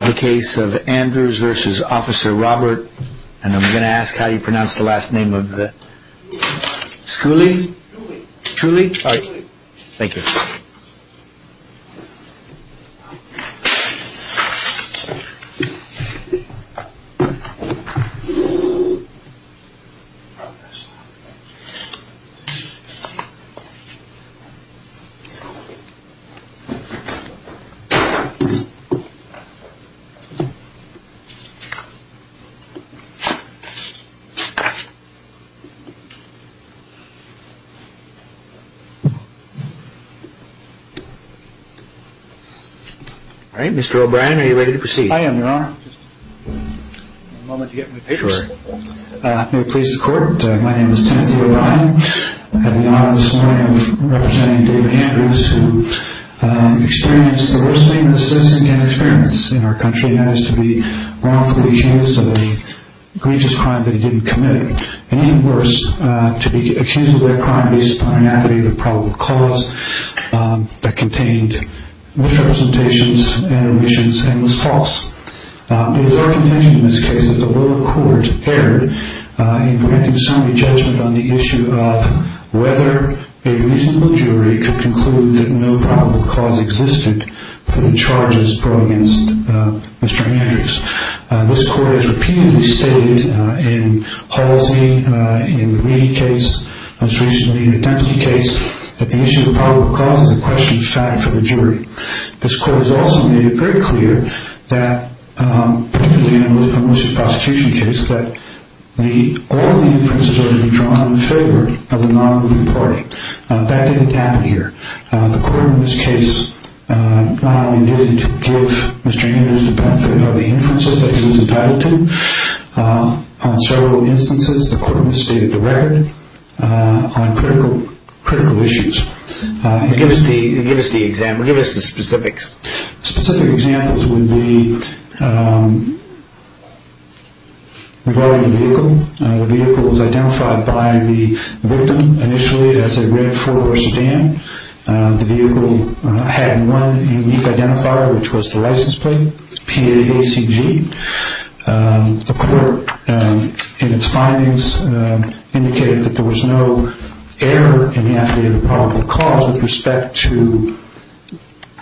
the case of Andrews v. Officer Robert and I'm going to ask how you pronounce the last name of the Scuilli. Scuilli. Scuilli. Alright Mr. O'Brien are you ready to proceed? I am your honor. Mr. O'Brien. May it please the court my name is Timothy O'Brien. I have the honor this morning of representing David Andrews who experienced the worst name in the citizen can experience in our country and managed to be wrongfully accused of a grievous crime that he didn't commit. And even worse to be accused of a crime based upon an aggravated probable cause that contained misrepresentations and omissions and was false. It is our contention in this case that the lower court erred in granting summary judgment on the issue of whether a reasonable jury could conclude that no probable cause existed for the charges brought against Mr. Andrews. This court has repeatedly stated in Halsey, in the Reid case, most recently in the Dempsey case, that the issue of probable cause is a question of fact for the jury. This court has also made it very clear that, particularly in a malicious prosecution case, that all of the inferences are to be drawn in favor of the non-group party. That didn't happen here. The court in this case not only needed to give Mr. Andrews the benefit of the inferences that he was entitled to, on several instances the court misstated the record on critical issues. Give us the specifics. Specific examples would be regarding the vehicle. The vehicle was identified by the victim initially as a red four-door sedan. The vehicle had one unique identifier, which was the license plate, P-A-C-G. The court, in its findings, indicated that there was no error in the affidavit of probable cause with respect to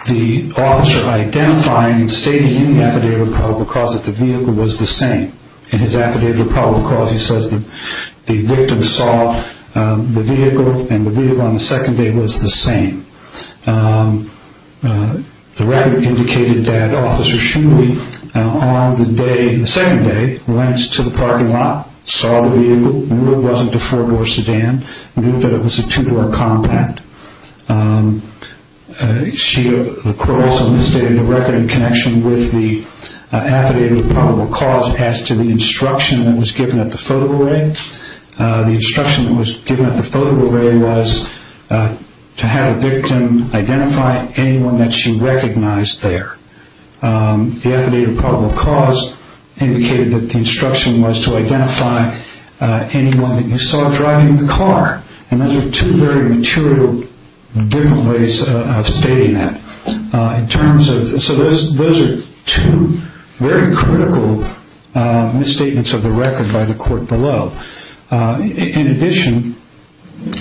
the officer identifying and stating in the affidavit of probable cause that the vehicle was the same. In his affidavit of probable cause, he says that the victim saw the vehicle and the vehicle on the second day was the same. The record indicated that Officer Shuley, on the second day, went to the parking lot, saw the vehicle, knew it wasn't a four-door sedan, knew that it was a two-door compact. The court also misstated the record in connection with the affidavit of probable cause as to the instruction that was given at the photo array. The instruction that was given at the photo array was to have the victim identify anyone that she recognized there. The affidavit of probable cause indicated that the instruction was to identify anyone that you saw driving the car. Those are two very material different ways of stating that. Those are two very critical misstatements of the record by the court below. In addition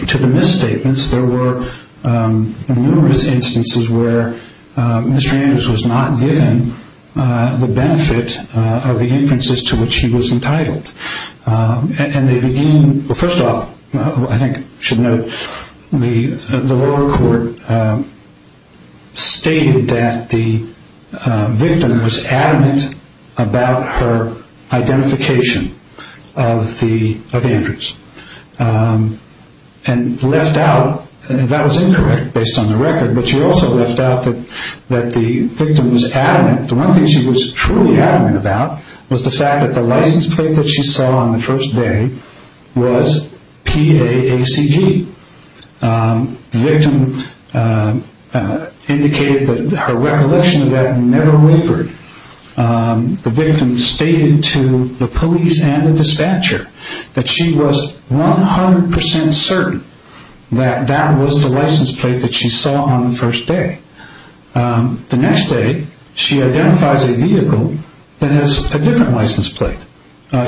to the misstatements, there were numerous instances where Mr. Andrews was not given the benefit of the inferences to which he was entitled. First off, I think we should note that the lower court stated that the victim was adamant about her identification of Andrews. That was incorrect based on the record, but she also left out that the victim was adamant. The one thing she was truly adamant about was the fact that the license plate that she saw on the first day was PAACG. The victim indicated that her recollection of that never wavered. The victim stated to the police and the dispatcher that she was 100% certain that that was the license plate that she saw on the first day. The next day, she identifies a vehicle that has a different license plate.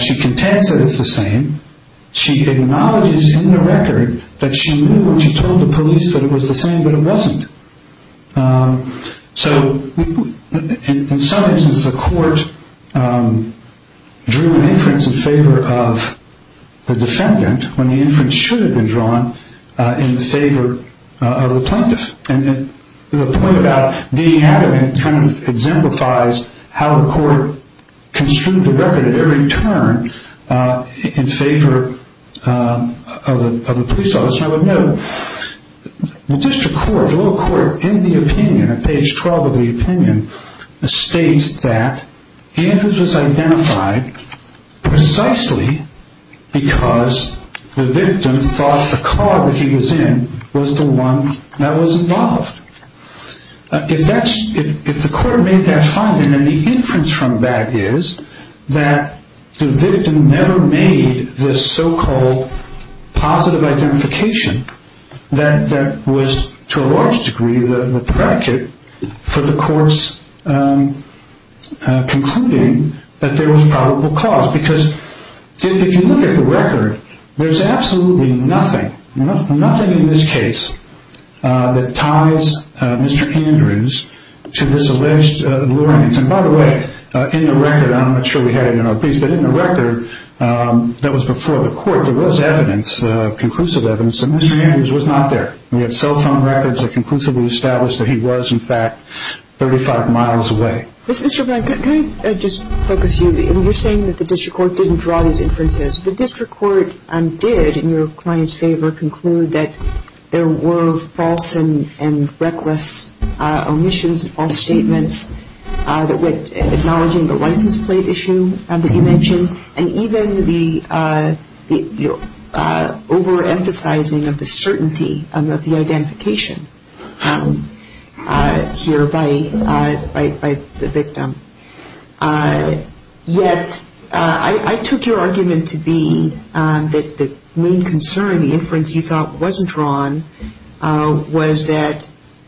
She contends that it's the same. She acknowledges in the record that she knew when she told the police that it was the same, but it wasn't. In some instances, the court drew an inference in favor of the defendant when the inference should have been drawn in favor of the plaintiff. The point about being adamant exemplifies how the court construed the record at every turn in favor of the police officer. District court in the opinion states that Andrews was identified precisely because the victim thought the car that he was in was the one that was involved. If the court made that finding and the inference from that is that the victim never made this so-called positive identification, that was to a large degree the predicate for the courts concluding that there was probable cause. If you look at the record, there's absolutely nothing in this case that ties Mr. Andrews to this alleged luring. By the way, in the record that was before the court, there was conclusive evidence that Mr. Andrews was not there. We had cell phone records that conclusively established that he was in fact 35 miles away. Mr. Blank, can I just focus you? You're saying that the district court didn't draw these inferences. The district court did, in your client's favor, conclude that there were false and reckless omissions, false statements that went acknowledging the license plate issue that you mentioned, and even the overemphasizing of the certainty of the identification here by the victim. Yet, I took your argument to be that the main concern, the inference you thought wasn't drawn, was that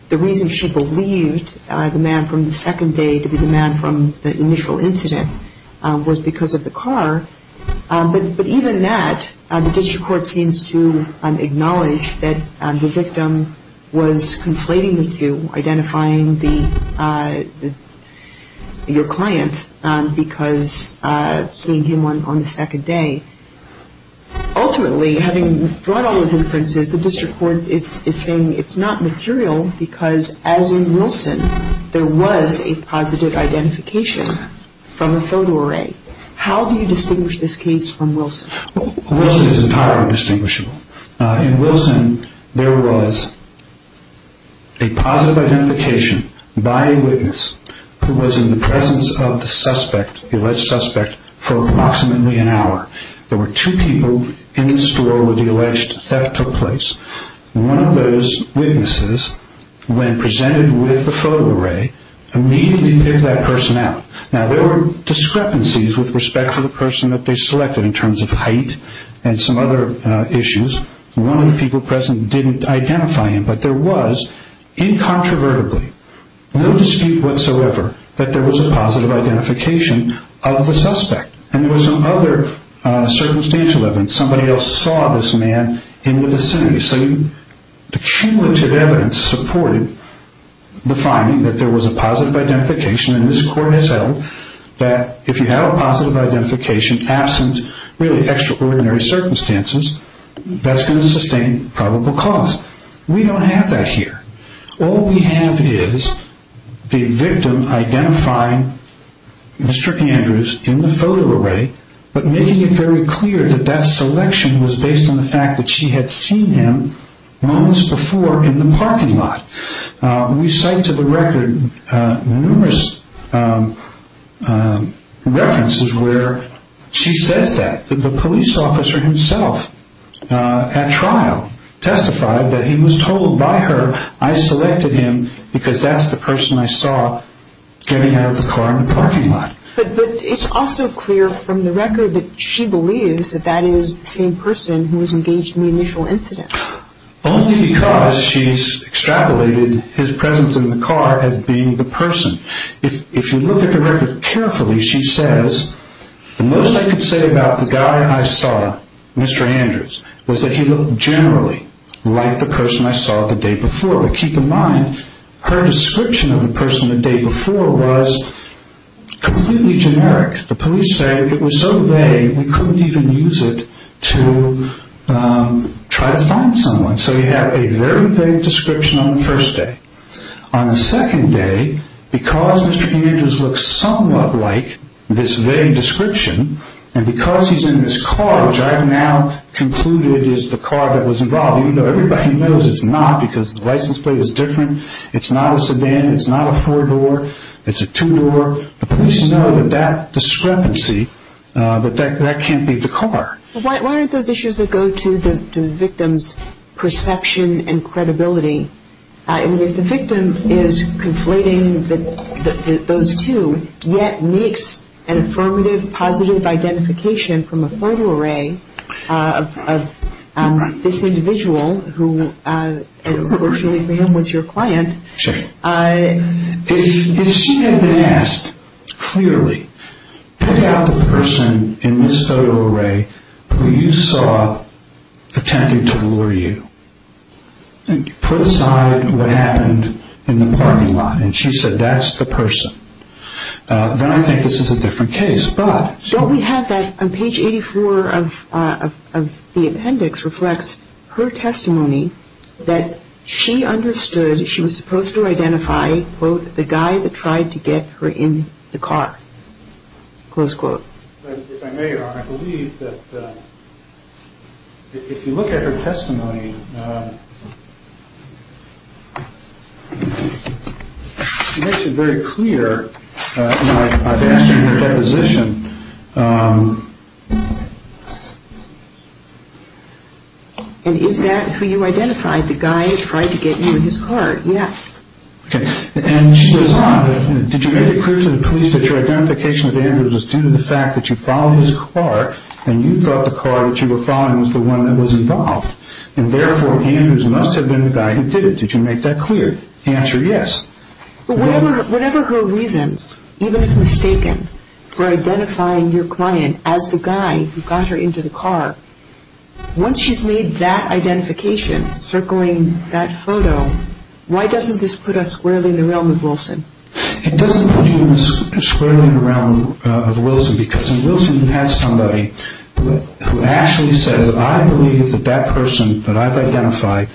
the reason she believed the man from the second day to be the man from the initial incident was because of the car. But even that, the district court seems to acknowledge that the victim was conflating the two, identifying your client because seeing him on the second day. Ultimately, having brought all those inferences, the district court is saying it's not material because as in Wilson, there was a positive identification from a photo array. How do you distinguish this case from Wilson? Wilson is entirely distinguishable. In Wilson, there was a positive identification by a witness who was in the presence of the suspect, the alleged suspect, for approximately an hour. There were two people in the store where the alleged theft took place. One of those witnesses, when presented with the photo array, immediately picked that person out. Now, there were discrepancies with respect to the person that they selected in terms of height and some other issues. One of the people present didn't identify him, but there was, incontrovertibly, no dispute whatsoever that there was a positive identification of the suspect. And there was some other circumstantial evidence. Somebody else saw this man in the vicinity. So the cumulative evidence supported the finding that there was a positive identification, and this court has settled that if you have a positive identification, absent really extraordinary circumstances, that's going to sustain probable cause. We don't have that here. All we have is the victim identifying Mr. Andrews in the photo array, but making it very clear that that selection was based on the fact that she had seen him moments before in the parking lot. We cite to the record numerous references where she says that. The police officer himself, at trial, testified that he was told by her, I selected him because that's the person I saw getting out of the car in the parking lot. But it's also clear from the record that she believes that that is the same person who was engaged in the initial incident. Only because she's extrapolated his presence in the car as being the person. If you look at the record carefully, she says, the most I could say about the guy I saw, Mr. Andrews, was that he looked generally like the person I saw the day before. But keep in mind, her description of the person the day before was completely generic. The police say it was so vague we couldn't even use it to try to find someone. So you have a very vague description on the first day. On the second day, because Mr. Andrews looks somewhat like this vague description, and because he's in this car, which I have now concluded is the car that was involved, even though everybody knows it's not because the license plate is different, it's not a sedan, it's not a four-door, it's a two-door, the police know that that discrepancy, that that can't be the car. Why aren't those issues that go to the victim's perception and credibility? I mean, if the victim is conflating those two, yet makes an affirmative, positive identification from a photo array of this individual who, unfortunately for him, was your client. If she had been asked clearly, put out the person in this photo array who you saw attempting to lure you, and put aside what happened in the parking lot, and she said that's the person, then I think this is a different case. What we have on page 84 of the appendix reflects her testimony that she understood she was supposed to identify, quote, the guy that tried to get her in the car, close quote. If I may, I believe that if you look at her testimony, she makes it very clear in her deposition. And is that who you identified, the guy who tried to get you in his car? Yes. Okay. And she goes on, did you make it clear to the police that your identification with Andrews was due to the fact that you followed his car, and you thought the car that you were following was the one that was involved? And therefore, Andrews must have been the guy who did it. Did you make that clear? The answer is yes. Whatever her reasons, even if mistaken, for identifying your client as the guy who got her into the car, once she's made that identification, circling that photo, why doesn't this put us squarely in the realm of Wilson? It doesn't put you squarely in the realm of Wilson, because in Wilson you have somebody who actually says, I believe that that person that I've identified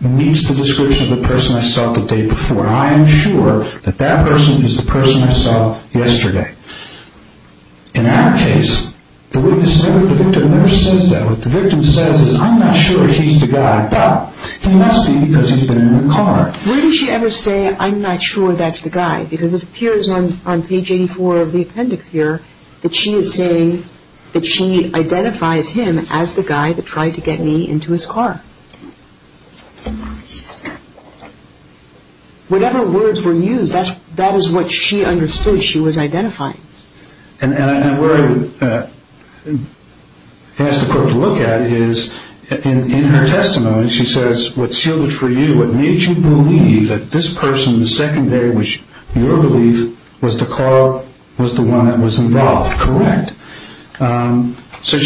meets the description of the person I saw the day before. I am sure that that person is the person I saw yesterday. In our case, the witness never says that. What the victim says is, I'm not sure he's the guy, but he must be because he's been in the car. Where does she ever say, I'm not sure that's the guy? Because it appears on page 84 of the appendix here that she is saying that she identifies him as the guy that tried to get me into his car. Whatever words were used, that is what she understood she was identifying. And where I would ask the court to look at is, in her testimony she says, what sealed it for you, what made you believe that this person the second day, which your belief was the car was the one that was involved, correct? So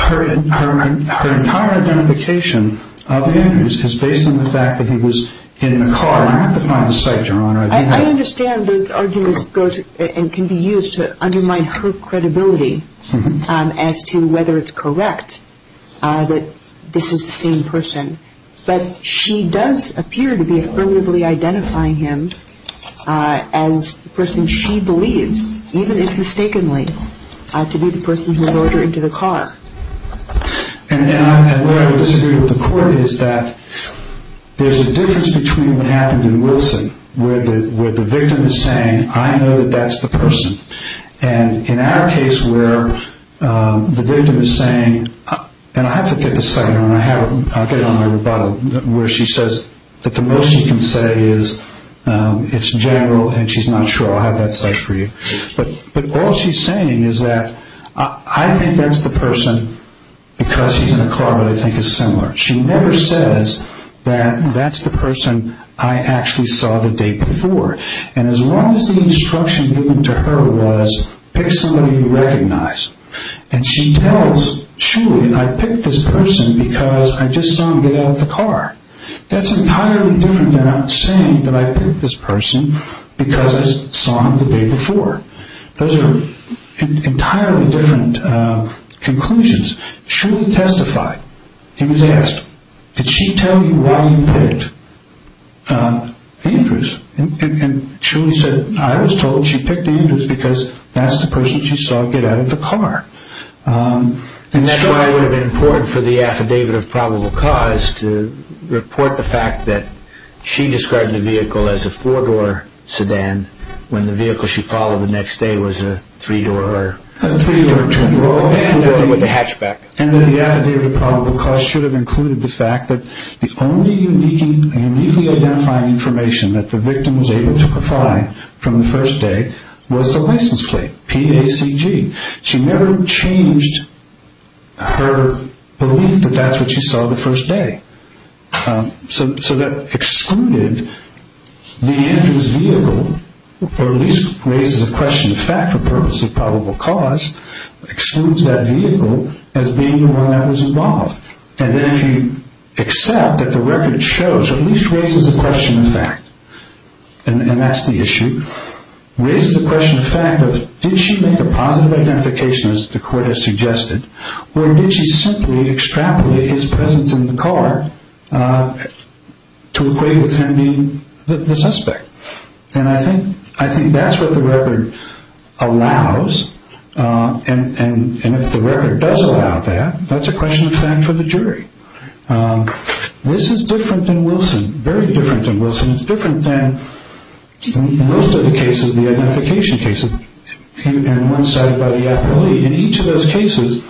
her entire identification of Andrews is based on the fact that he was in the car. I have to find the site, Your Honor. I understand those arguments can be used to undermine her credibility as to whether it's correct that this is the same person. But she does appear to be affirmatively identifying him as the person she believes, even if mistakenly, to be the person who brought her into the car. And where I would disagree with the court is that there's a difference between what happened in Wilson, where the victim is saying, I know that that's the person. And in our case, where the victim is saying, and I have to get the site, I'll get it on my rebuttal, where she says that the most she can say is it's general and she's not sure, I'll have that site for you. But all she's saying is that I think that's the person because he's in the car, but I think it's similar. She never says that that's the person I actually saw the day before. And as long as the instruction given to her was pick somebody you recognize. And she tells Shulie, I picked this person because I just saw him get out of the car. That's entirely different than saying that I picked this person because I saw him the day before. Those are entirely different conclusions. Shulie testified. He was asked, did she tell you why you picked Andrews? And Shulie said, I was told she picked Andrews because that's the person she saw get out of the car. And that's why it would have been important for the affidavit of probable cause to report the fact that she described the vehicle as a four-door sedan when the vehicle she followed the next day was a three-door or two-door with a hatchback. And that the affidavit of probable cause should have included the fact that the only uniquely identifying information that the victim was able to provide from the first day was the license plate, PACG. She never changed her belief that that's what she saw the first day. So that excluded the Andrews vehicle, or at least raises a question of fact for the purpose of probable cause, excludes that vehicle as being the one that was involved. And then if you accept that the record shows, or at least raises a question of fact, and that's the issue, raises a question of fact of did she make a positive identification, as the court has suggested, or did she simply extrapolate his presence in the car to equate with him being the suspect? And I think that's what the record allows. And if the record does allow that, that's a question of fact for the jury. This is different than Wilson, very different than Wilson. It's different than most of the cases, the identification cases, and one cited by the affidavit. In each of those cases,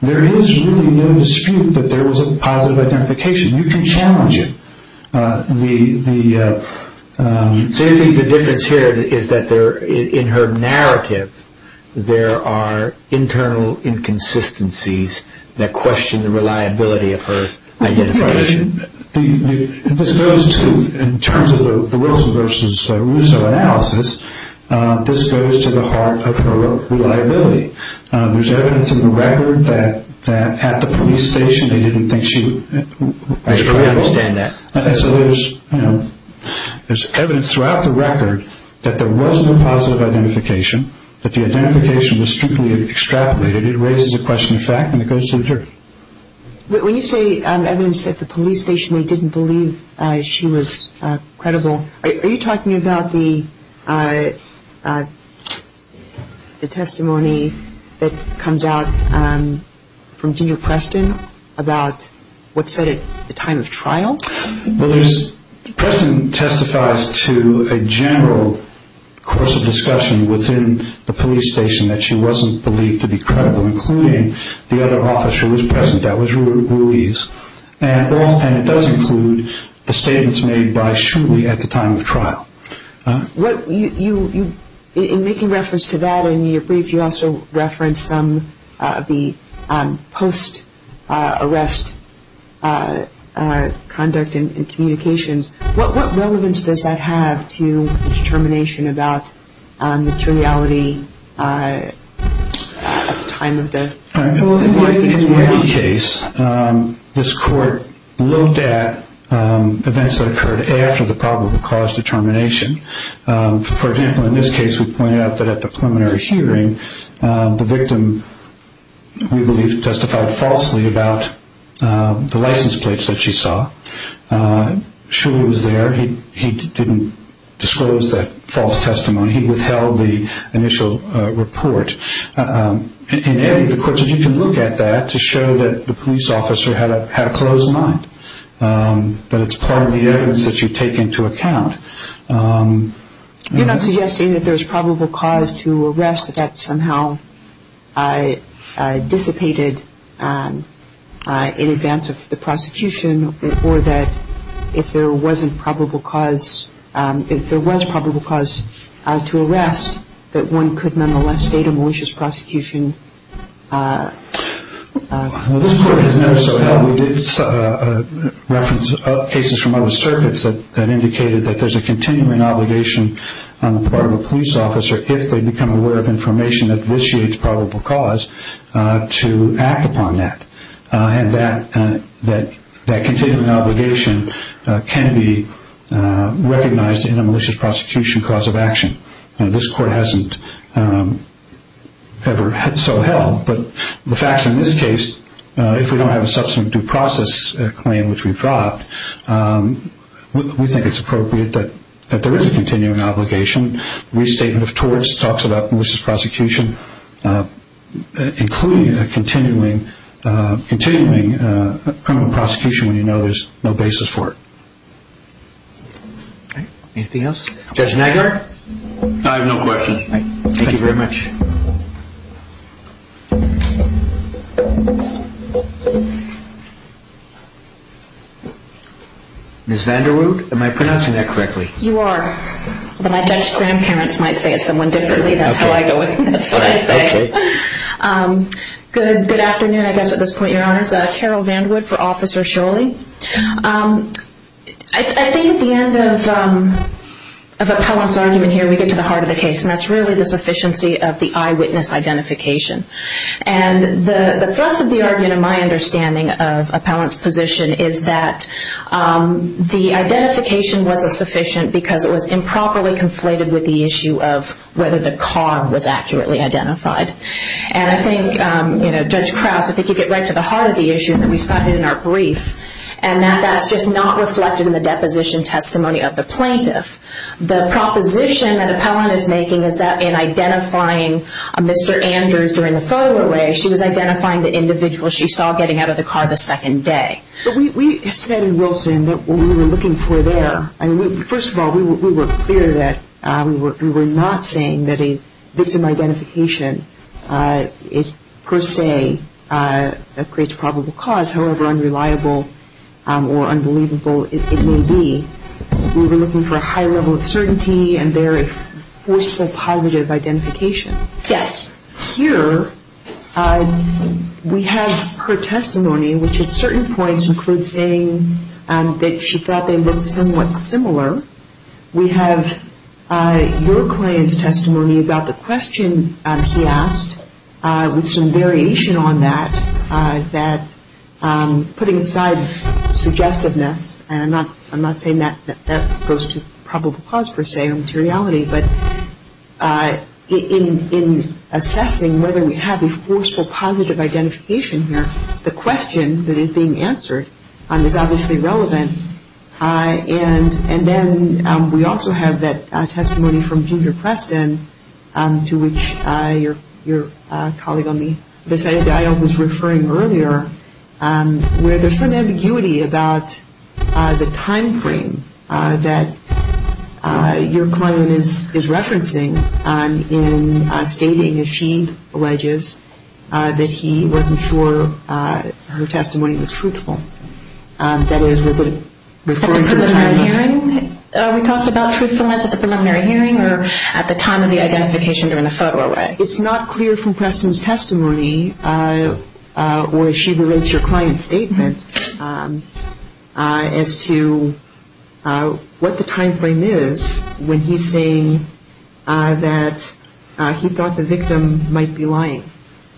there is really no dispute that there was a positive identification. You can challenge it. So you think the difference here is that in her narrative, there are internal inconsistencies that question the reliability of her identification? This goes to, in terms of the Wilson versus Russo analysis, this goes to the heart of her reliability. There's evidence in the record that at the police station, they didn't think she was reliable. I understand that. So there's evidence throughout the record that there was no positive identification, that the identification was strictly extrapolated. It raises a question of fact, and it goes to the jury. When you say evidence at the police station, they didn't believe she was credible, Are you talking about the testimony that comes out from Junior Preston about what's said at the time of trial? Preston testifies to a general course of discussion within the police station that she wasn't believed to be credible, including the other officer who was present, that was Ruiz. And it does include the statements made by Shuley at the time of the trial. In making reference to that in your brief, you also referenced some of the post-arrest conduct and communications. What relevance does that have to the determination about materiality at the time of the trial? Well, in any case, this court looked at events that occurred after the probable cause determination. For example, in this case, we pointed out that at the preliminary hearing, the victim, we believe, testified falsely about the license plates that she saw. Shuley was there. He didn't disclose that false testimony. He withheld the initial report. In any of the courts, you can look at that to show that the police officer had a closed mind, that it's part of the evidence that you take into account. You're not suggesting that there's probable cause to arrest, that that somehow dissipated in advance of the prosecution, or that if there was probable cause to arrest, that one could nonetheless state a malicious prosecution? Well, this court has never so helped. We did reference cases from other circuits that indicated that there's a continuing obligation on the part of a police officer, if they become aware of information that vitiates probable cause, to act upon that. And that continuing obligation can be recognized in a malicious prosecution cause of action. This court hasn't ever so helped. But the facts in this case, if we don't have a subsequent due process claim, which we've dropped, we think it's appropriate that there is a continuing obligation. It's a continuing restatement of torts, talks about malicious prosecution, including a continuing criminal prosecution when you know there's no basis for it. Anything else? Judge Nagler? I have no question. Thank you very much. Ms. Vanderwood, am I pronouncing that correctly? You are. But my Dutch grandparents might say it's someone differently. That's how I go with it. That's what I say. Okay. Good afternoon, I guess, at this point, Your Honors. Carol Vanderwood for Officer Scholey. I think at the end of Appellant's argument here, we get to the heart of the case, and that's really the sufficiency of the eyewitness identification. And the thrust of the argument, in my understanding of Appellant's position, is that the identification wasn't sufficient because it was improperly conflated with the issue of whether the car was accurately identified. And I think, Judge Krause, I think you get right to the heart of the issue that we cited in our brief, and that that's just not reflected in the deposition testimony of the plaintiff. The proposition that Appellant is making is that in identifying Mr. Andrews during the photo array, she was identifying the individual she saw getting out of the car the second day. But we said in Wilson that what we were looking for there, first of all, we were clear that we were not saying that a victim identification per se creates probable cause, however unreliable or unbelievable it may be. We were looking for a high level of certainty and there a forceful positive identification. Yes. Here we have her testimony, which at certain points includes saying that she thought they looked somewhat similar. We have your client's testimony about the question he asked, with some variation on that, that putting aside suggestiveness, and I'm not saying that that goes to probable cause per se or materiality, but in assessing whether we have a forceful positive identification here, the question that is being answered is obviously relevant. And then we also have that testimony from Junior Preston, to which your colleague on the side of the aisle was referring earlier, where there's some ambiguity about the time frame that your client is referencing in stating that she alleges that he wasn't sure her testimony was truthful. That is, was it referring to the time of hearing? We talked about truthfulness at the preliminary hearing or at the time of the identification during the photo array? It's not clear from Preston's testimony, where she relates your client's statement as to what the time frame is when he's saying that he thought the victim might be lying,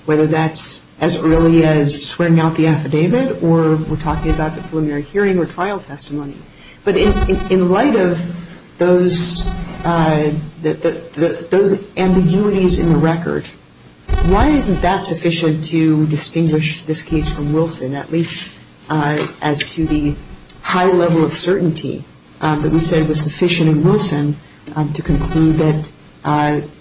whether that's as early as swearing out the affidavit or we're talking about the preliminary hearing or trial testimony. But in light of those ambiguities in the record, why isn't that sufficient to distinguish this case from Wilson, at least as to the high level of certainty that we said was sufficient in Wilson to conclude that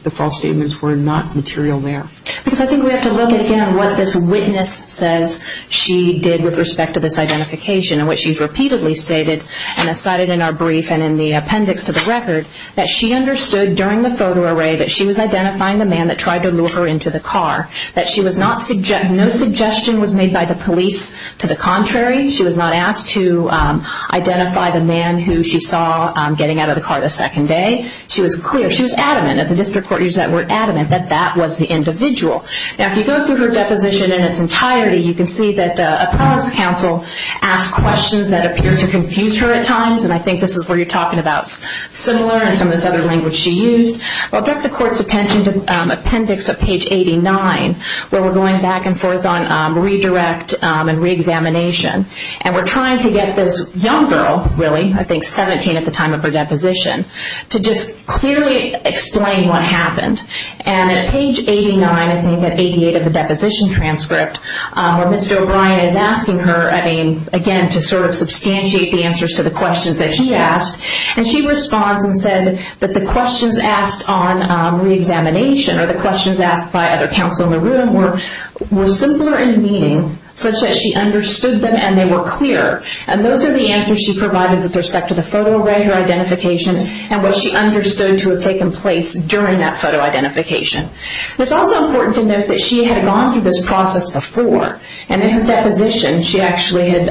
the false statements were not material there? Because I think we have to look again at what this witness says she did with respect to this identification, and what she's repeatedly stated and cited in our brief and in the appendix to the record, that she understood during the photo array that she was identifying the man that tried to lure her into the car, that no suggestion was made by the police. To the contrary, she was not asked to identify the man who she saw getting out of the car the second day. She was clear, she was adamant, as the district court used that word adamant, that that was the individual. Now, if you go through her deposition in its entirety, you can see that appellant's counsel asked questions that appear to confuse her at times, and I think this is where you're talking about similar and some of this other language she used. I'll direct the court's attention to appendix of page 89, where we're going back and forth on redirect and re-examination, and we're trying to get this young girl, really, I think 17 at the time of her deposition, to just clearly explain what happened. And at page 89, I think at 88 of the deposition transcript, where Mr. O'Brien is asking her, I mean, again, to sort of substantiate the answers to the questions that he asked, and she responds and said that the questions asked on re-examination or the questions asked by other counsel in the room were simpler in meaning, such that she understood them and they were clear, and those are the answers she provided with respect to the photo array, her identification, and what she understood to have taken place during that photo identification. It's also important to note that she had gone through this process before, and in her deposition, she actually had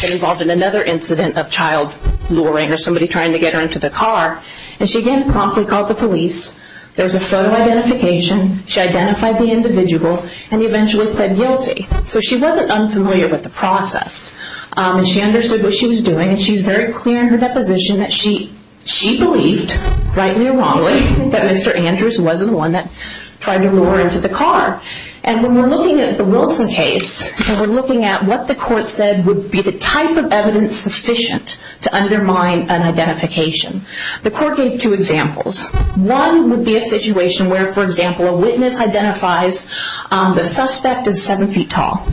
been involved in another incident of child luring or somebody trying to get her into the car, and she again promptly called the police. There was a photo identification. She identified the individual, and eventually pled guilty. So she wasn't unfamiliar with the process, and she understood what she was doing, and she was very clear in her deposition that she believed, rightly or wrongly, that Mr. Andrews wasn't the one that tried to lure her into the car. And when we're looking at the Wilson case, and we're looking at what the court said would be the type of evidence sufficient to undermine an identification, the court gave two examples. One would be a situation where, for example, a witness identifies the suspect as 7 feet tall,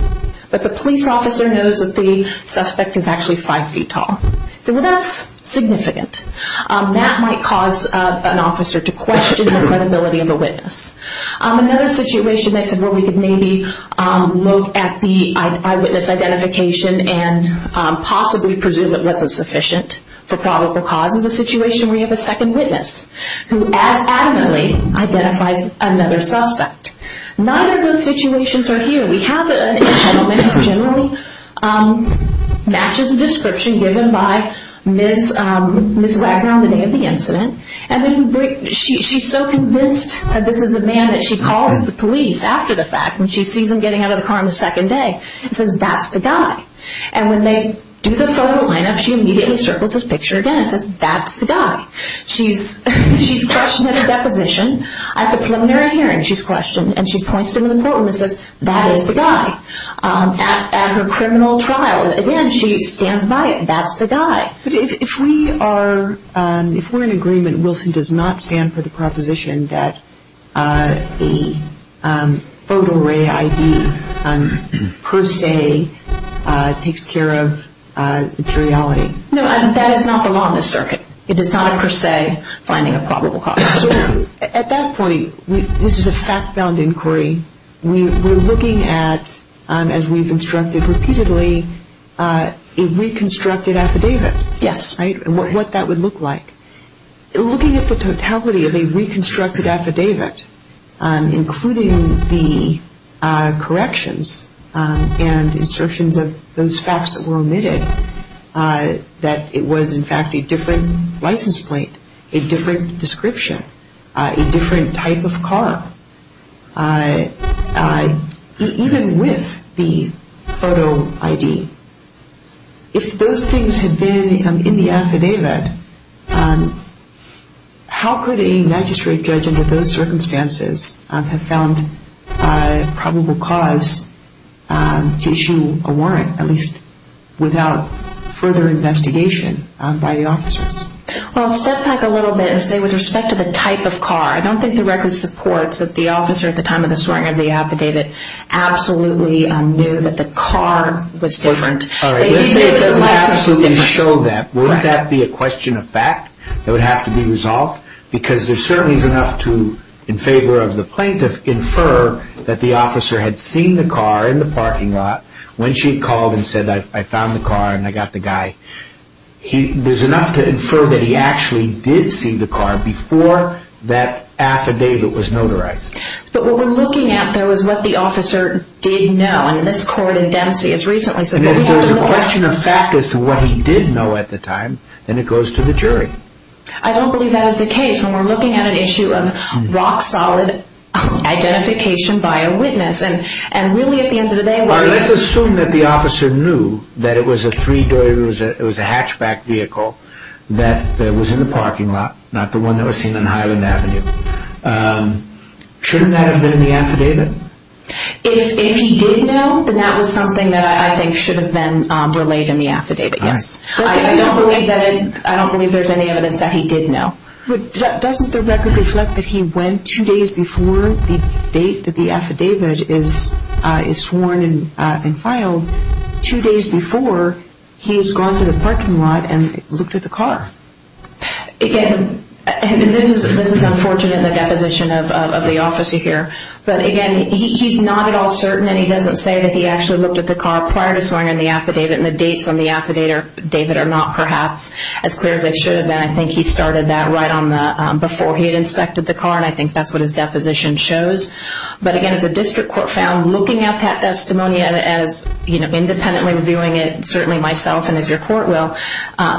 but the police officer knows that the suspect is actually 5 feet tall. So that's significant. That might cause an officer to question the credibility of a witness. Another situation, they said, where we could maybe look at the eyewitness identification and possibly presume it wasn't sufficient for probable cause is a situation where you have a second witness who as adamantly identifies another suspect. Neither of those situations are here. We have a gentleman who generally matches the description given by Ms. Wagner on the day of the incident, and then she's so convinced that this is a man that she calls the police after the fact when she sees him getting out of the car on the second day and says, that's the guy. And when they do the photo line-up, she immediately circles his picture again and says, that's the guy. She's questioned at the deposition. At the preliminary hearing, she's questioned, and she points to him in the courtroom and says, that is the guy. At her criminal trial, again, she stands by it. That's the guy. But if we are in agreement, Wilson does not stand for the proposition that the photo array ID per se takes care of materiality. No, that is not the law in this circuit. It is not a per se finding of probable cause. At that point, this is a fact-bound inquiry. We're looking at, as we've instructed repeatedly, a reconstructed affidavit. Yes. And what that would look like. Looking at the totality of a reconstructed affidavit, including the corrections and insertions of those facts that were omitted, that it was, in fact, a different license plate, a different description, a different type of car. Even with the photo ID, if those things had been in the affidavit, how could a magistrate judge under those circumstances have found probable cause to issue a warrant, at least without further investigation by the officers? Well, I'll step back a little bit and say, with respect to the type of car, I don't think the record supports that the officer, at the time of the swearing-in of the affidavit, absolutely knew that the car was different. All right. Let's say that the license was different. Wouldn't that be a question of fact that would have to be resolved? Because there certainly is enough to, in favor of the plaintiff, infer that the officer had seen the car in the parking lot when she had called and said, I found the car and I got the guy. There's enough to infer that he actually did see the car before that affidavit was notarized. But what we're looking at, though, is what the officer did know. And this court in Dempsey has recently said... If there's a question of fact as to what he did know at the time, then it goes to the jury. I don't believe that is the case when we're looking at an issue of rock-solid identification by a witness. And really, at the end of the day... All right, let's assume that the officer knew that it was a hatchback vehicle that was in the parking lot, not the one that was seen on Highland Avenue. Shouldn't that have been in the affidavit? If he did know, then that was something that I think should have been relayed in the affidavit, yes. I don't believe there's any evidence that he did know. Doesn't the record reflect that he went two days before the date that the affidavit is sworn and filed, two days before he's gone to the parking lot and looked at the car? Again, this is unfortunate, the deposition of the officer here. But again, he's not at all certain, and he doesn't say that he actually looked at the car prior to sworn in the affidavit, and the dates on the affidavit are not perhaps as clear as they should have been. I think he started that right before he had inspected the car, and I think that's what his deposition shows. But again, as a district court found, looking at that testimony as independently reviewing it, certainly myself and as your court will,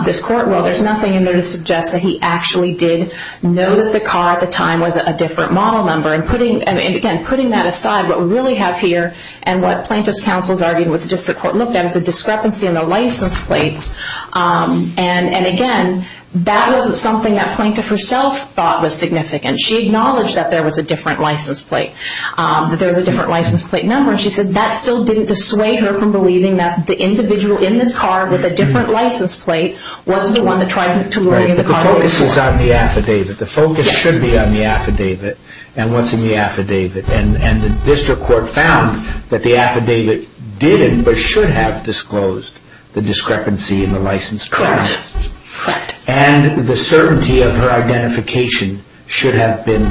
this court will. There's nothing in there to suggest that he actually did know that the car at the time was a different model number. And again, putting that aside, what we really have here and what plaintiff's counsels argued with the district court looked at is a discrepancy in the license plates. And again, that was something that plaintiff herself thought was significant. She acknowledged that there was a different license plate, that there was a different license plate number, and she said that still didn't dissuade her from believing that the individual in this car with a different license plate was the one that tried to lure you into the car. Right, but the focus is on the affidavit. The focus should be on the affidavit and what's in the affidavit. And the district court found that the affidavit didn't, but should have disclosed the discrepancy in the license plate. Correct. Correct. And the certainty of her identification should have been,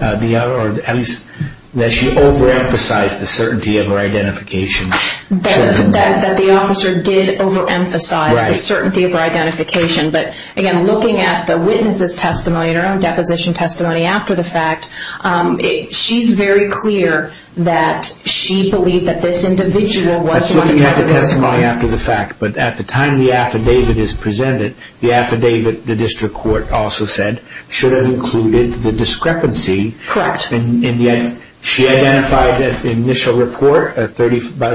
or at least that she overemphasized the certainty of her identification. That the officer did overemphasize the certainty of her identification. But again, looking at the witness's testimony and her own deposition testimony after the fact, she's very clear that she believed that this individual was the one that tried to lure you into the car. That's looking at the testimony after the fact. But at the time the affidavit is presented, the affidavit, the district court also said, should have included the discrepancy. Correct. She identified in the initial report about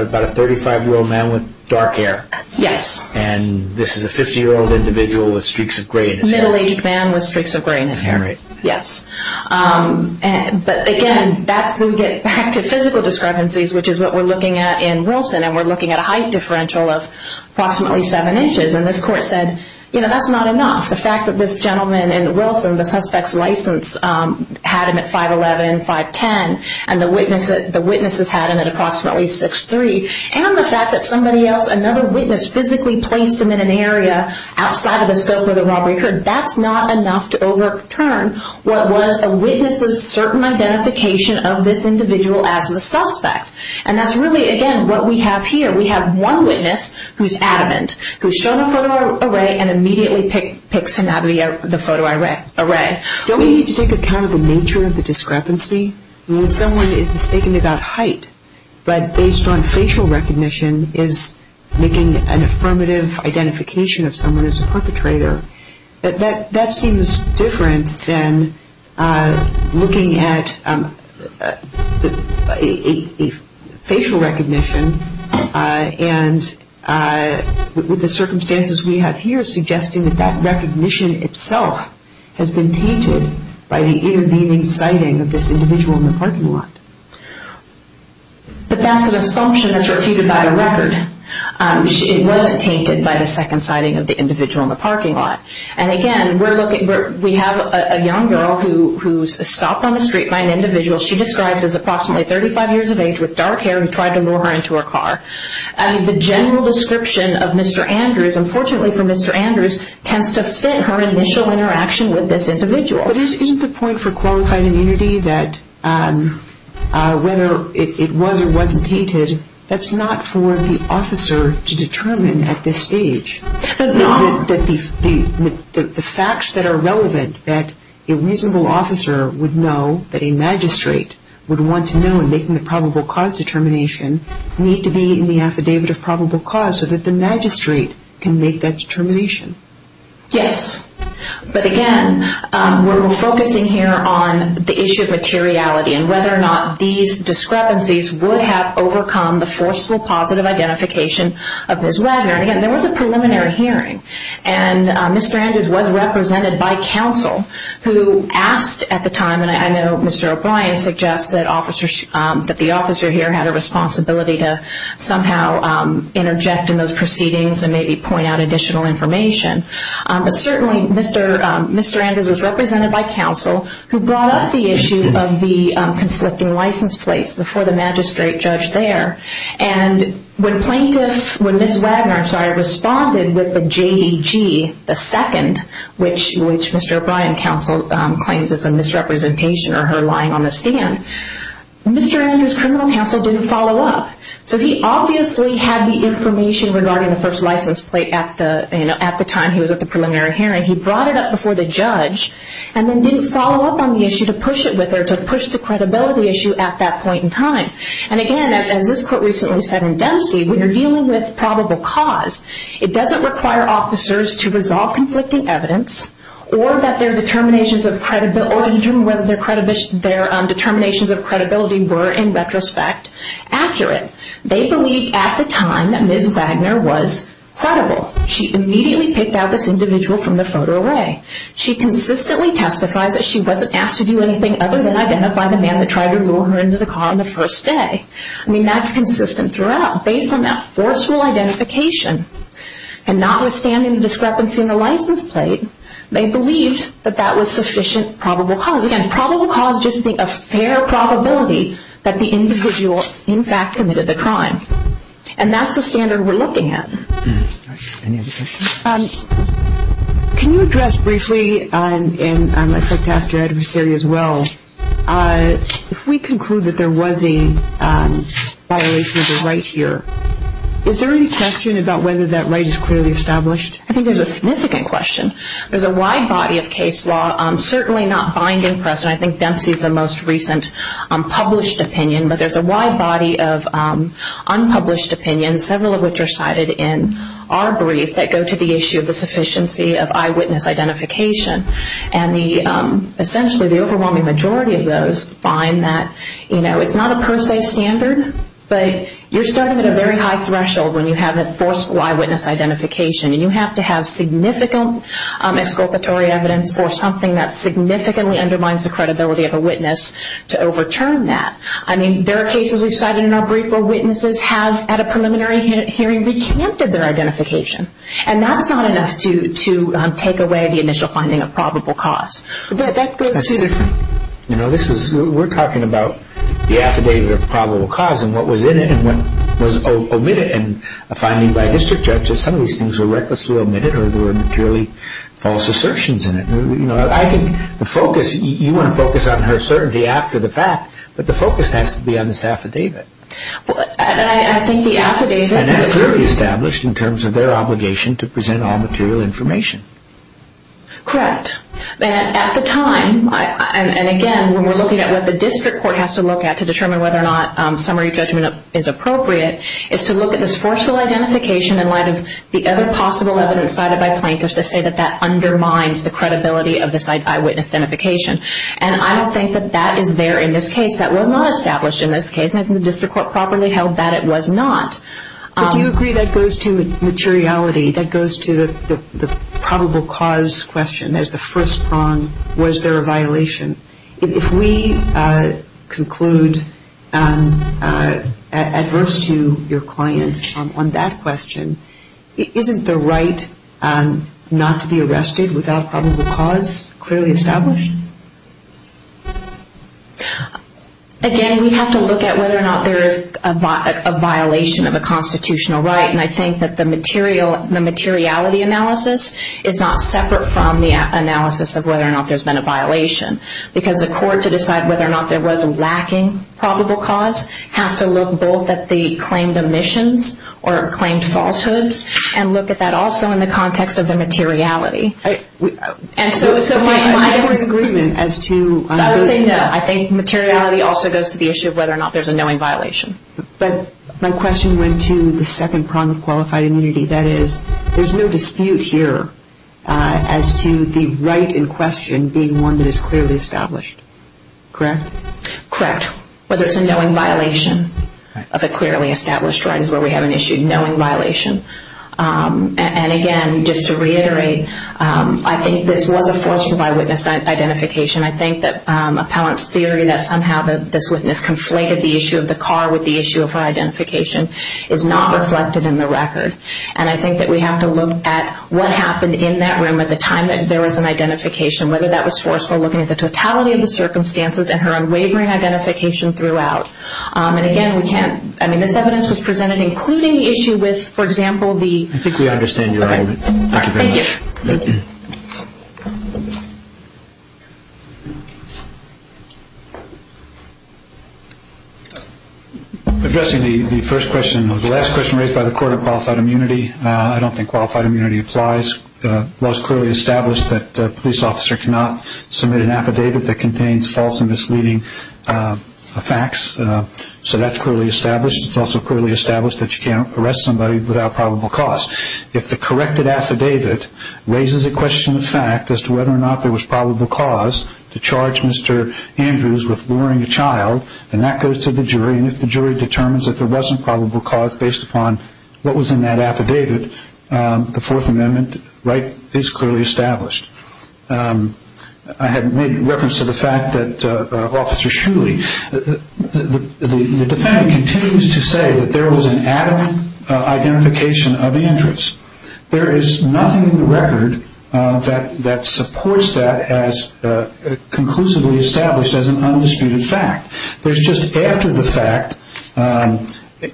a 35-year-old man with dark hair. Yes. And this is a 50-year-old individual with streaks of gray in his hair. Middle-aged man with streaks of gray in his hair. Yes. But again, that's when we get back to physical discrepancies, which is what we're looking at in Wilson. And we're looking at a height differential of approximately 7 inches. And this court said, you know, that's not enough. The fact that this gentleman in Wilson, the suspect's license, had him at 5'11", 5'10", and the witness has had him at approximately 6'3", and the fact that somebody else, another witness, physically placed him in an area outside of the scope of the robbery occurred, that's not enough to overturn what was a witness's certain identification of this individual as the suspect. And that's really, again, what we have here. We have one witness who's adamant, who's shown a photo array and immediately picks him out of the photo array. Don't we need to take account of the nature of the discrepancy? When someone is mistaken about height but based on facial recognition is making an affirmative identification of someone as a perpetrator, that seems different than looking at facial recognition and with the circumstances we have here suggesting that that recognition itself has been tainted by the intervening sighting of this individual in the parking lot. But that's an assumption that's refuted by the record. It wasn't tainted by the second sighting of the individual in the parking lot. And again, we have a young girl who's stopped on the street by an individual she describes as approximately 35 years of age with dark hair who tried to lure her into her car. The general description of Mr. Andrews, unfortunately for Mr. Andrews, tends to fit her initial interaction with this individual. But isn't the point for qualified immunity that whether it was or wasn't tainted, that's not for the officer to determine at this stage. The facts that are relevant that a reasonable officer would know, that a magistrate would want to know in making the probable cause determination, need to be in the affidavit of probable cause so that the magistrate can make that determination. Yes, but again, we're focusing here on the issue of materiality and whether or not these discrepancies would have overcome the forceful positive identification of Ms. Wagner. And again, there was a preliminary hearing and Mr. Andrews was represented by counsel who asked at the time, and I know Mr. O'Brien suggests that the officer here had a responsibility to somehow interject in those proceedings and maybe point out additional information. But certainly Mr. Andrews was represented by counsel who brought up the issue of the conflicting license plates before the magistrate judged there. And when plaintiff, when Ms. Wagner, I'm sorry, responded with the JDG, the second, which Mr. O'Brien counsel claims is a misrepresentation or her lying on the stand, Mr. Andrews' criminal counsel didn't follow up. So he obviously had the information regarding the first license plate at the time he was at the preliminary hearing. He brought it up before the judge and then didn't follow up on the issue to push it with her, to push the credibility issue at that point in time. And again, as this court recently said in Dempsey, when you're dealing with probable cause, it doesn't require officers to resolve conflicting evidence or determine whether their determinations of credibility were, in retrospect, accurate. They believe at the time that Ms. Wagner was credible. She immediately picked out this individual from the photo array. She consistently testifies that she wasn't asked to do anything other than identify the man that tried to lure her into the car on the first day. I mean, that's consistent throughout. Based on that fourth school identification and notwithstanding the discrepancy in the license plate, they believed that that was sufficient probable cause. Again, probable cause just being a fair probability that the individual, in fact, committed the crime. And that's the standard we're looking at. Any other questions? Can you address briefly, and I'd like to ask your adversary as well, if we conclude that there was a violation of the right here, is there any question about whether that right is clearly established? I think there's a significant question. There's a wide body of case law, certainly not bind and press, and I think Dempsey's the most recent published opinion, but there's a wide body of unpublished opinions, several of which are cited in our brief, that go to the issue of the sufficiency of eyewitness identification. And essentially the overwhelming majority of those find that, you know, it's not a per se standard, but you're starting at a very high threshold when you have that fourth school eyewitness identification. And you have to have significant exculpatory evidence for something that significantly undermines the credibility of a witness to overturn that. I mean, there are cases we've cited in our brief where witnesses have, at a preliminary hearing, recanted their identification. And that's not enough to take away the initial finding of probable cause. That's different. You know, we're talking about the affidavit of probable cause and what was in it and what was omitted in a finding by district judges. Some of these things were recklessly omitted or there were purely false assertions in it. You know, I think the focus, you want to focus on her certainty after the fact, but the focus has to be on this affidavit. I think the affidavit... That's clearly established in terms of their obligation to present all material information. Correct. And at the time, and again, when we're looking at what the district court has to look at to determine whether or not summary judgment is appropriate, is to look at this forceful identification in light of the other possible evidence cited by plaintiffs to say that that undermines the credibility of this eyewitness identification. And I don't think that that is there in this case. That was not established in this case. And I think the district court properly held that it was not. But do you agree that goes to materiality, that goes to the probable cause question as the first prong, was there a violation? If we conclude adverse to your client on that question, isn't the right not to be arrested without probable cause clearly established? Again, we have to look at whether or not there is a violation of a constitutional right. And I think that the materiality analysis is not separate from the analysis of whether or not there's been a violation. Because the court to decide whether or not there was a lacking probable cause has to look both at the claimed omissions or claimed falsehoods and look at that also in the context of the materiality. So my disagreement as to... So I would say no. I think materiality also goes to the issue of whether or not there's a knowing violation. But my question went to the second prong of qualified immunity. That is, there's no dispute here as to the right in question being one that is clearly established. Correct? Correct. Whether it's a knowing violation of a clearly established right is where we have an issue. Knowing violation. And again, just to reiterate, I think this was a forceful eyewitness identification. I think that appellant's theory that somehow this witness conflated the issue of the car with the issue of her identification is not reflected in the record. And I think that we have to look at what happened in that room at the time that there was an identification, whether that was forceful, looking at the totality of the circumstances and her unwavering identification throughout. And again, we can't... I mean, this evidence was presented including the issue with, for example, the... I think we understand your argument. Thank you very much. Thank you. Addressing the first question, the last question raised by the Court of Qualified Immunity, I don't think qualified immunity applies. It was clearly established that a police officer cannot submit an affidavit that contains false and misleading facts. So that's clearly established. It's also clearly established that you can't arrest somebody without probable cause. If the corrected affidavit raises a question of fact as to whether or not there was probable cause to charge Mr. Andrews with luring a child, then that goes to the jury, and if the jury determines that there wasn't probable cause based upon what was in that affidavit, the Fourth Amendment right is clearly established. I had made reference to the fact that Officer Shuley... The defendant continues to say that there was an adamant identification of Andrews. There is nothing in the record that supports that as conclusively established as an undisputed fact. There's just after-the-fact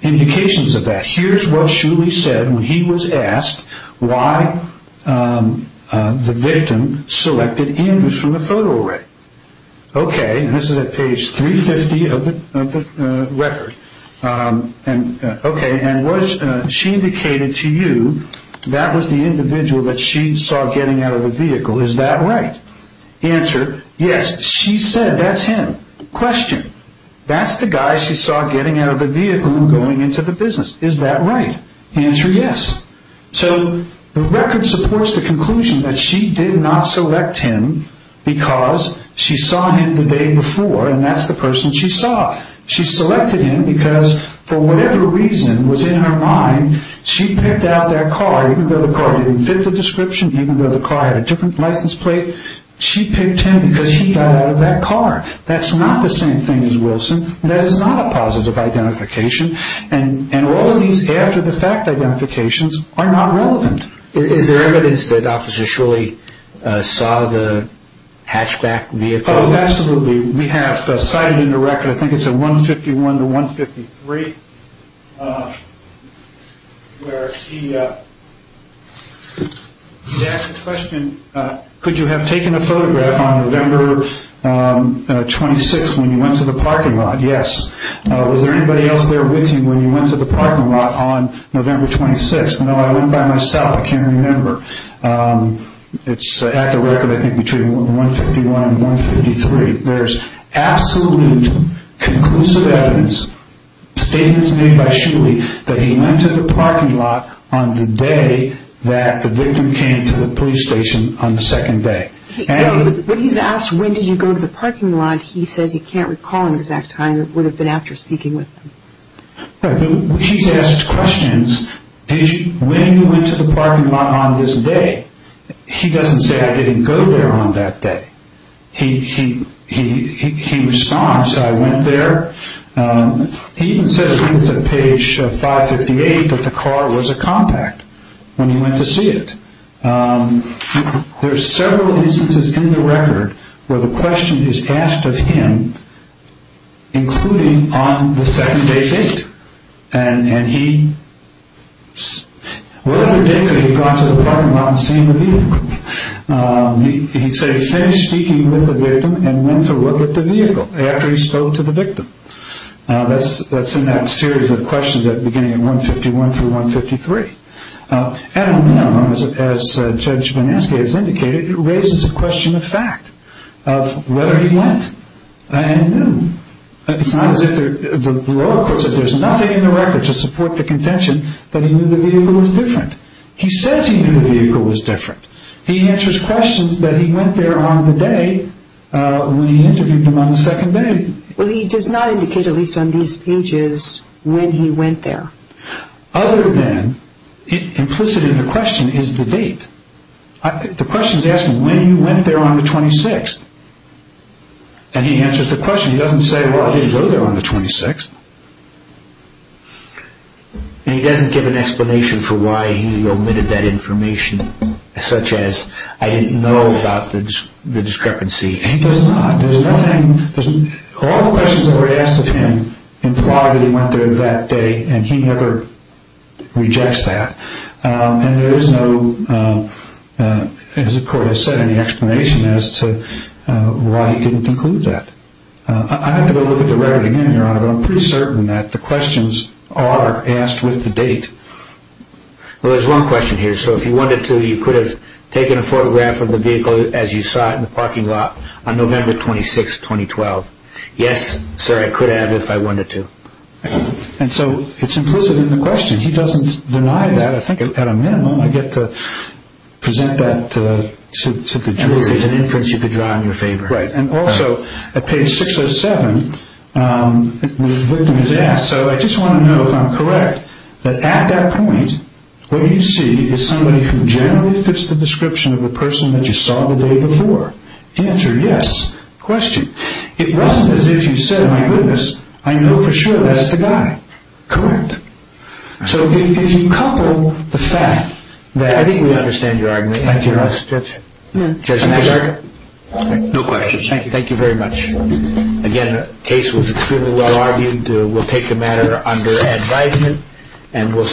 indications of that. Here's what Shuley said when he was asked why the victim selected Andrews from the photo array. Okay, this is at page 350 of the record. Okay, and was... She indicated to you that was the individual that she saw getting out of the vehicle. Is that right? Answer, yes, she said that's him. Question, that's the guy she saw getting out of the vehicle and going into the business. Is that right? Answer, yes. So the record supports the conclusion that she did not select him because she saw him the day before and that's the person she saw. She selected him because, for whatever reason was in her mind, she picked out that car. Even though the car didn't fit the description, even though the car had a different license plate, she picked him because he got out of that car. That's not the same thing as Wilson. That is not a positive identification. And all of these after-the-fact identifications are not relevant. Is there evidence that Officer Shuley saw the hatchback vehicle? Oh, absolutely. We have cited in the record, I think it's at 151 to 153, where he asked the question, could you have taken a photograph on November 26th when you went to the parking lot? Yes. Was there anybody else there with you when you went to the parking lot on November 26th? No, I went by myself. I can't remember. It's at the record, I think, between 151 and 153. There's absolute conclusive evidence, statements made by Shuley, that he went to the parking lot on the day that the victim came to the police station on the second day. When he's asked, when did you go to the parking lot, he says he can't recall an exact time. It would have been after speaking with him. He's asked questions, when you went to the parking lot on this day. He doesn't say, I didn't go there on that day. He responds, I went there. He even says, I think it's at page 558, that the car was a compact when he went to see it. There are several instances in the record where the question is asked of him, including on the second day date. And he, what other day could he have gone to the parking lot and seen the vehicle? He'd say he finished speaking with the victim and went to look at the vehicle after he spoke to the victim. That's in that series of questions beginning at 151 through 153. At a minimum, as Judge Banansky has indicated, it raises a question of fact, of whether he went and knew. It's not as if there's nothing in the record to support the contention that he knew the vehicle was different. He says he knew the vehicle was different. He answers questions that he went there on the day when he interviewed him on the second day. Well, he does not indicate, at least on these pages, when he went there. Other than, implicit in the question is the date. The question is asking, when you went there on the 26th? And he answers the question. He doesn't say, well, I didn't go there on the 26th. And he doesn't give an explanation for why he omitted that information, such as, I didn't know about the discrepancy. He does not. There's nothing. All the questions that were asked of him imply that he went there that day, and he never rejects that. And there is no, as the court has said, any explanation as to why he didn't conclude that. I'd have to go look at the record again, Your Honor, but I'm pretty certain that the questions are asked with the date. Well, there's one question here. So if you wanted to, you could have taken a photograph of the vehicle as you saw it in the parking lot on November 26, 2012. Yes, sir, I could have if I wanted to. And so it's implicit in the question. He doesn't deny that. I think at a minimum I get to present that to the jury. And this is an inference you could draw in your favor. Right. And also at page 607, the victim is asked, so I just want to know if I'm correct, that at that point what you see is somebody who generally fits the description of the person that you saw the day before. Answer, yes. Question, it wasn't as if you said, my goodness, I know for sure that's the guy. Correct. So if you couple the fact that I think we understand your argument. Thank you, Judge. Judge Nagy. No questions. Thank you. Thank you very much. Again, the case was extremely well-argued. We'll take the matter under advisement and we'll stay with it.